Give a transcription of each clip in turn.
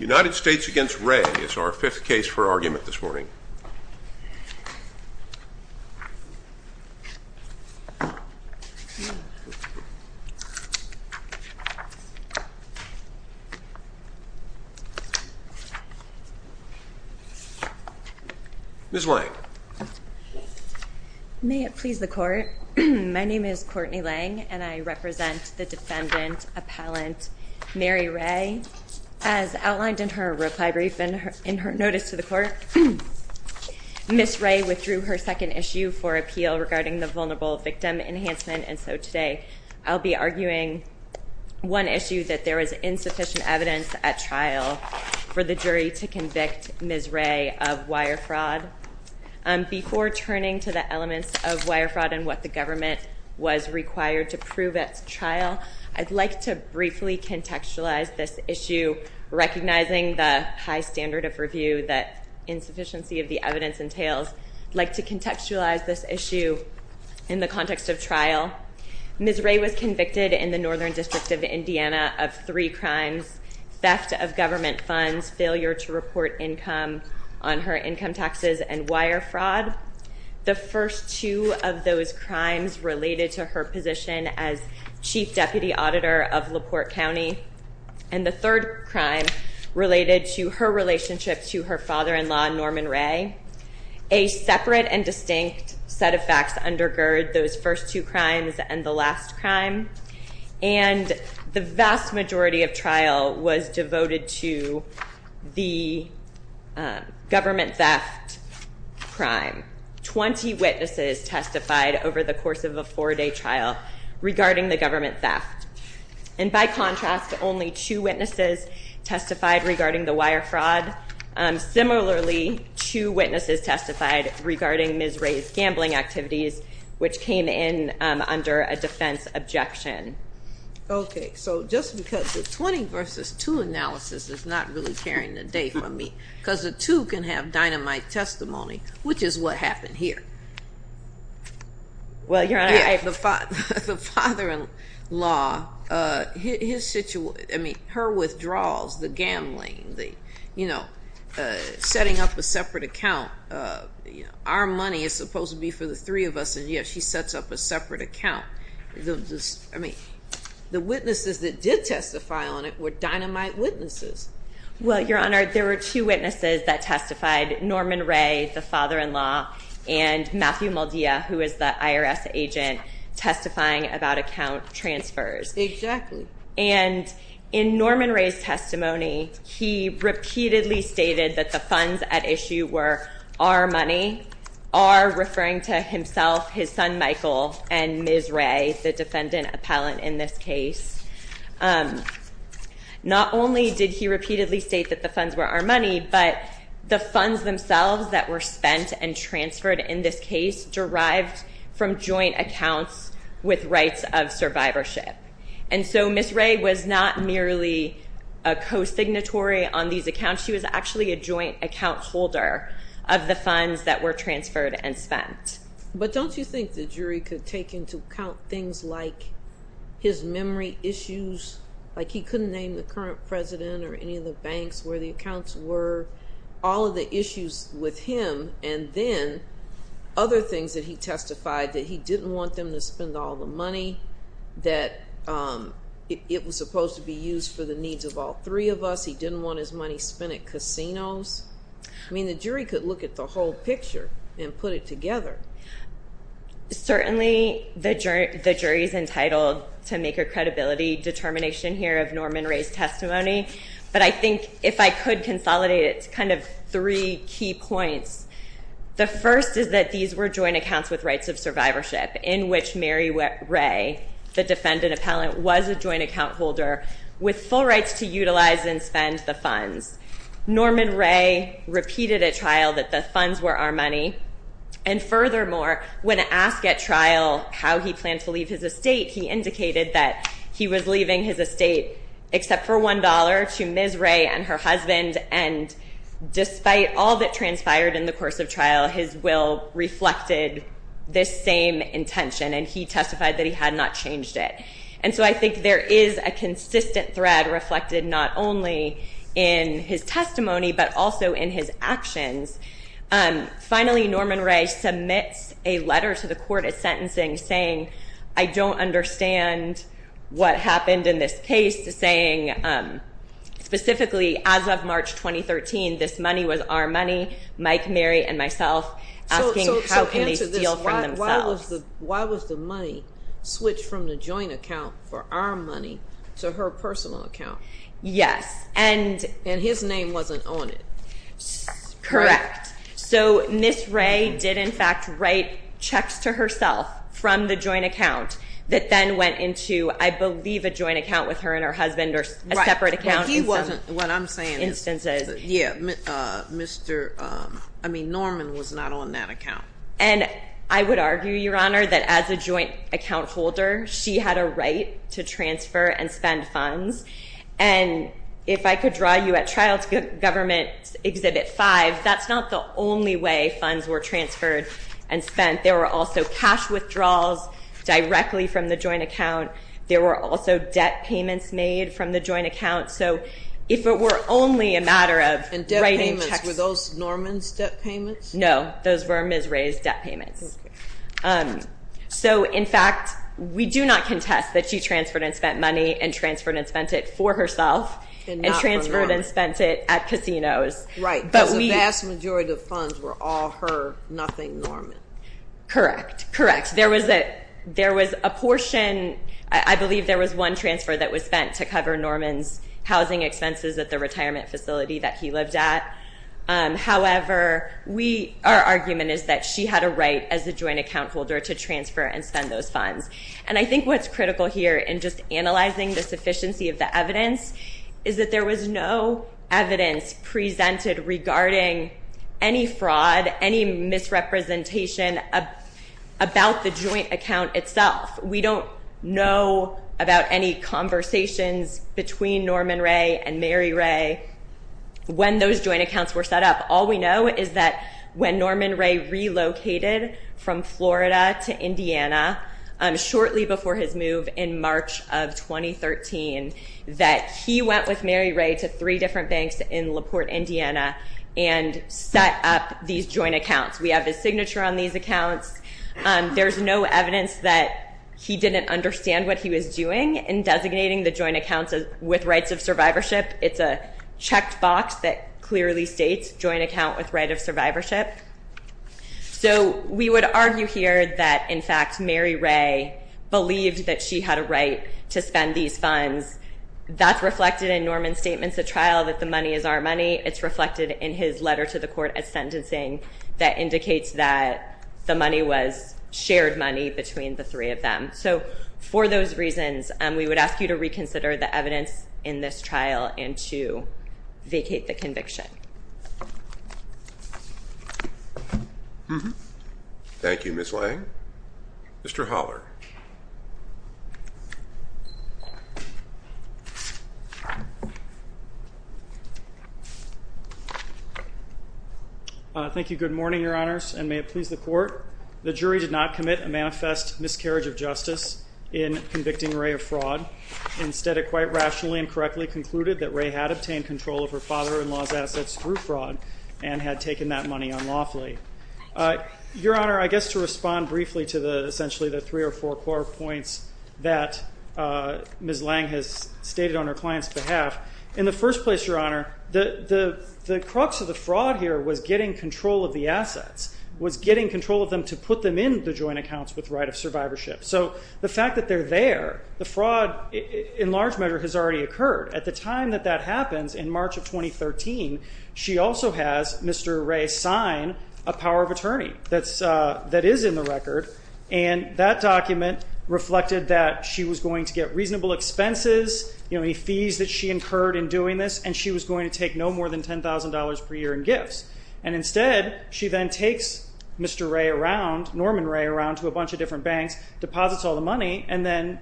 United States v. Ray is our fifth case for argument this morning. Ms. Lang. May it please the court. My name is Courtney Lang and I represent the defendant appellant Mary Ray. As outlined in her reply brief and in her notice to the court, Ms. Ray withdrew her second issue for appeal regarding the vulnerable victim enhancement and so today I'll be arguing one issue that there is insufficient evidence at trial for the jury to convict Ms. Ray of wire fraud. Before turning to the elements of wire fraud and what the government was required to prove at trial, I'd like to briefly contextualize this issue, recognizing the high standard of review that insufficiency of the evidence entails. I'd like to contextualize this issue in the context of trial. Ms. Ray was convicted in the Northern District of Indiana of three crimes, theft of government funds, failure to report income on her income taxes, and wire fraud. The first two of those crimes related to her position as Chief Deputy Auditor of LaPorte County and the third crime related to her relationship to her father-in-law Norman Ray. A separate and distinct set of facts undergird those first two crimes and the last crime and the vast majority of trial was devoted to the government theft crime. Twenty witnesses testified over the course of a four-day trial regarding the government theft and by contrast, only two witnesses testified regarding the wire fraud. Similarly, two witnesses testified regarding Ms. Ray's gambling activities which came in under a defense objection. Okay, so just because the 20 versus 2 analysis is not really carrying the day for me, because the two can have dynamite testimony, which is what happened here. Well, Your Honor- The father-in-law, his situation, I mean, her withdrawals, the gambling, setting up a separate account. Our money is supposed to be for the three of us and yet she sets up a separate account. I mean, the witnesses that did testify on it were dynamite witnesses. Well, Your Honor, there were two witnesses that testified, Norman Ray, the father-in-law, and Matthew Maldia, who is the IRS agent, testifying about account transfers. Exactly. And in Norman Ray's testimony, he repeatedly stated that the funds at issue were our money, our, referring to himself, his son Michael, and Ms. Ray, the defendant appellant in this case. Not only did he repeatedly state that the funds were our money, but the funds themselves that were spent and transferred in this case derived from joint accounts with rights of survivorship. And so Ms. Ray was not merely a co-signatory on these accounts. She was actually a joint account holder of the funds that were transferred and spent. But don't you think the jury could take into account things like his memory issues, like he couldn't name the current president or any of the banks where the accounts were, all of the issues with him, and then other things that he testified, that he didn't want them to spend all the money, that it was supposed to be used for the needs of all three of us, he didn't want his money spent at casinos? I mean, the jury could look at the whole picture and put it together. Certainly, the jury is entitled to make a credibility determination here of Norman Ray's testimony. But I think if I could consolidate it to kind of three key points. The first is that these were joint accounts with rights of survivorship, in which Mary Ray, the defendant appellant, was a joint account holder with full rights to utilize and spend the funds. Norman Ray repeated at trial that the funds were our money. And furthermore, when asked at trial how he planned to leave his estate, he indicated that he was leaving his estate except for $1 to Ms. Ray and her husband, and despite all that transpired in the course of trial, his will reflected this same intention, and he testified that he had not changed it. And so I think there is a consistent thread reflected not only in his testimony but also in his actions. Finally, Norman Ray submits a letter to the court of sentencing saying, I don't understand what happened in this case, saying specifically as of March 2013, this money was our money, Mike, Mary, and myself, asking how can they steal from themselves. Why was the money switched from the joint account for our money to her personal account? Yes. And his name wasn't on it. Correct. So Ms. Ray did, in fact, write checks to herself from the joint account that then went into, I believe, a joint account with her and her husband or a separate account in some instances. Right, but he wasn't, what I'm saying is, yeah, Mr., I mean, Norman was not on that account. And I would argue, Your Honor, that as a joint account holder, she had a right to transfer and spend funds. And if I could draw you at trial to government Exhibit 5, that's not the only way funds were transferred and spent. There were also cash withdrawals directly from the joint account. There were also debt payments made from the joint account. So if it were only a matter of writing checks. And debt payments, were those Norman's debt payments? No, those were Ms. Ray's debt payments. So, in fact, we do not contest that she transferred and spent money and transferred and spent it for herself. And transferred and spent it at casinos. Right, because the vast majority of funds were all her, nothing Norman. Correct, correct. There was a portion, I believe there was one transfer that was spent to cover Norman's housing expenses at the retirement facility that he lived at. However, our argument is that she had a right as a joint account holder to transfer and spend those funds. And I think what's critical here in just analyzing the sufficiency of the evidence is that there was no evidence presented regarding any fraud, any misrepresentation about the joint account itself. We don't know about any conversations between Norman Ray and Mary Ray when those joint accounts were set up. All we know is that when Norman Ray relocated from Florida to Indiana shortly before his move in March of 2013, that he went with Mary Ray to three different banks in LaPorte, Indiana and set up these joint accounts. There's no evidence that he didn't understand what he was doing in designating the joint accounts with rights of survivorship. It's a checked box that clearly states joint account with right of survivorship. So we would argue here that, in fact, Mary Ray believed that she had a right to spend these funds. That's reflected in Norman's statements at trial that the money is our money. It's reflected in his letter to the court at sentencing that indicates that the money was shared money between the three of them. So for those reasons, we would ask you to reconsider the evidence in this trial and to vacate the conviction. Thank you, Ms. Lang. Mr. Holler. Thank you. Good morning, Your Honors, and may it please the court. The jury did not commit a manifest miscarriage of justice in convicting Ray of fraud. Instead, it quite rationally and correctly concluded that Ray had obtained control of her father-in-law's assets through fraud and had taken that money unlawfully. Your Honor, I guess to respond briefly to essentially the three or four core points that Ms. Lang has stated on her client's behalf, in the first place, Your Honor, the crux of the fraud here was getting control of the assets, was getting control of them to put them in the joint accounts with right of survivorship. So the fact that they're there, the fraud in large measure has already occurred. At the time that that happens, in March of 2013, she also has Mr. Ray sign a power of attorney that is in the record, and that document reflected that she was going to get reasonable expenses, you know, any fees that she incurred in doing this, and she was going to take no more than $10,000 per year in gifts. And instead, she then takes Mr. Ray around, Norman Ray around to a bunch of different banks, deposits all the money, and then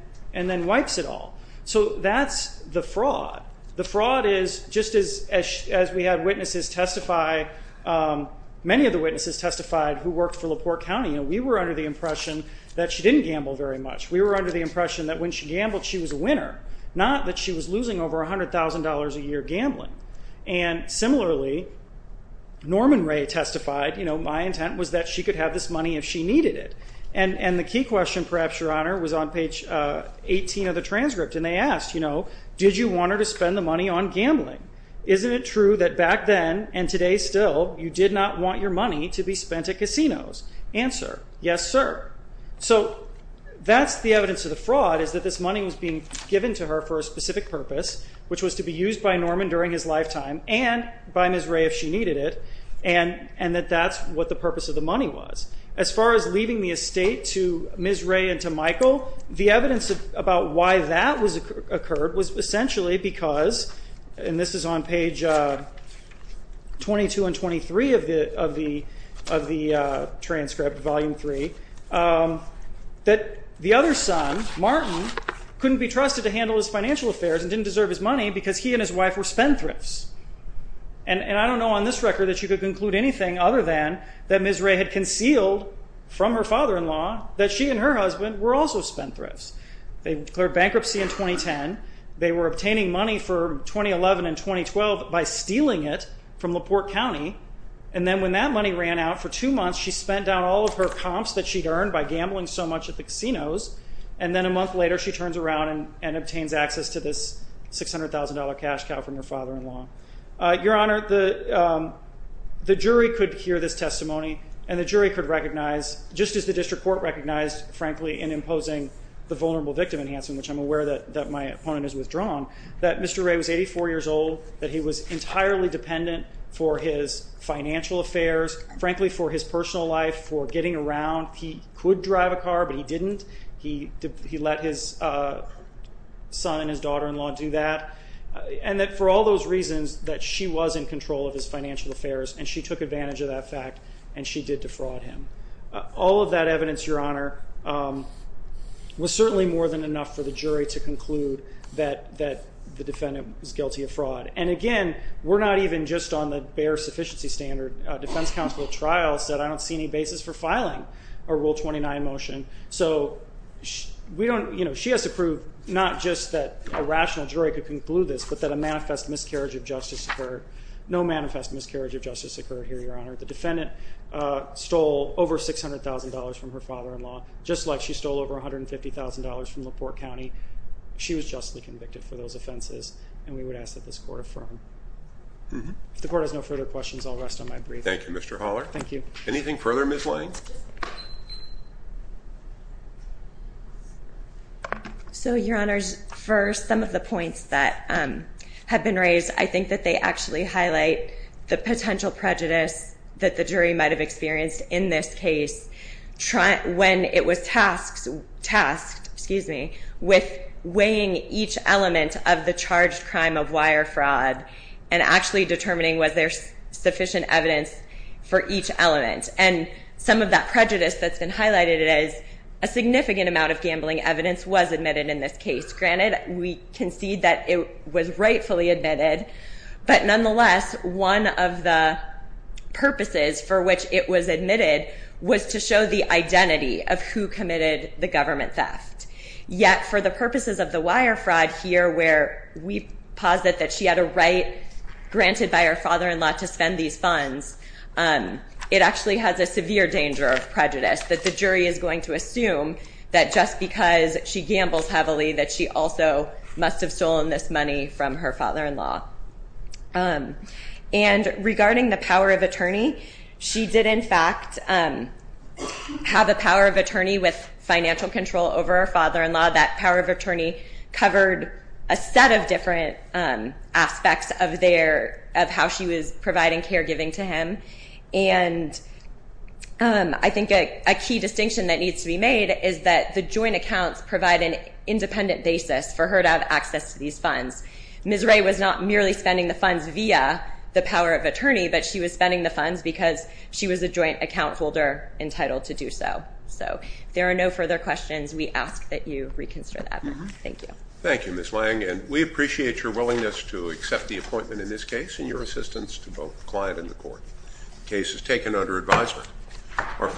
wipes it all. So that's the fraud. The fraud is just as we had witnesses testify, many of the witnesses testified who worked for LaPorte County. We were under the impression that she didn't gamble very much. We were under the impression that when she gambled, she was a winner, not that she was losing over $100,000 a year gambling. And similarly, Norman Ray testified, you know, my intent was that she could have this money if she needed it. And the key question, perhaps, Your Honor, was on page 18 of the transcript, and they asked, you know, did you want her to spend the money on gambling? Isn't it true that back then, and today still, you did not want your money to be spent at casinos? Answer, yes, sir. So that's the evidence of the fraud is that this money was being given to her for a specific purpose, which was to be used by Norman during his lifetime and by Ms. Ray if she needed it, and that that's what the purpose of the money was. As far as leaving the estate to Ms. Ray and to Michael, the evidence about why that occurred was essentially because, and this is on page 22 and 23 of the transcript, Volume 3, that the other son, Martin, couldn't be trusted to handle his financial affairs and didn't deserve his money because he and his wife were spendthrifts. And I don't know on this record that you could conclude anything other than that Ms. Ray had concealed from her father-in-law that she and her husband were also spendthrifts. They declared bankruptcy in 2010. They were obtaining money for 2011 and 2012 by stealing it from LaPorte County, and then when that money ran out for two months, she spent down all of her comps that she'd earned by gambling so much at the casinos, and then a month later she turns around and obtains access to this $600,000 cash cow from her father-in-law. Your Honor, the jury could hear this testimony, and the jury could recognize, just as the district court recognized, frankly, in imposing the vulnerable victim enhancement, which I'm aware that my opponent has withdrawn, that Mr. Ray was 84 years old, that he was entirely dependent for his financial affairs, frankly, for his personal life, for getting around. He could drive a car, but he didn't. He let his son and his daughter-in-law do that, and that for all those reasons, that she was in control of his financial affairs, and she took advantage of that fact, and she did defraud him. All of that evidence, Your Honor, was certainly more than enough for the jury to conclude that the defendant was guilty of fraud. And again, we're not even just on the bare sufficiency standard. A defense counsel at trial said, I don't see any basis for filing a Rule 29 motion. So she has to prove not just that a rational jury could conclude this, but that a manifest miscarriage of justice occurred. No manifest miscarriage of justice occurred here, Your Honor. The defendant stole over $600,000 from her father-in-law, just like she stole over $150,000 from LaPorte County. She was justly convicted for those offenses, and we would ask that this court affirm. If the court has no further questions, I'll rest on my brief. Thank you, Mr. Haller. Thank you. Anything further, Ms. Lane? So, Your Honors, for some of the points that have been raised, I think that they actually highlight the potential prejudice that the jury might have experienced in this case when it was tasked with weighing each element of the charged crime of wire fraud and actually determining was there sufficient evidence for each element. And some of that prejudice that's been highlighted is a significant amount of gambling evidence was admitted in this case. Granted, we concede that it was rightfully admitted, but nonetheless, one of the purposes for which it was admitted was to show the identity of who committed the government theft. Yet, for the purposes of the wire fraud here, where we posit that she had a right granted by her father-in-law to spend these funds, it actually has a severe danger of prejudice, that the jury is going to assume that just because she gambles heavily that she also must have stolen this money from her father-in-law. And regarding the power of attorney, she did in fact have a power of attorney with financial control over her father-in-law. That power of attorney covered a set of different aspects of how she was providing caregiving to him. And I think a key distinction that needs to be made is that the joint accounts provide an independent basis for her to have access to these funds. Ms. Ray was not merely spending the funds via the power of attorney, but she was spending the funds because she was a joint account holder entitled to do so. So, if there are no further questions, we ask that you reconsider that. Thank you. Thank you, Ms. Lang. And we appreciate your willingness to accept the appointment in this case and your assistance to both the client and the court. The case is taken under advisement.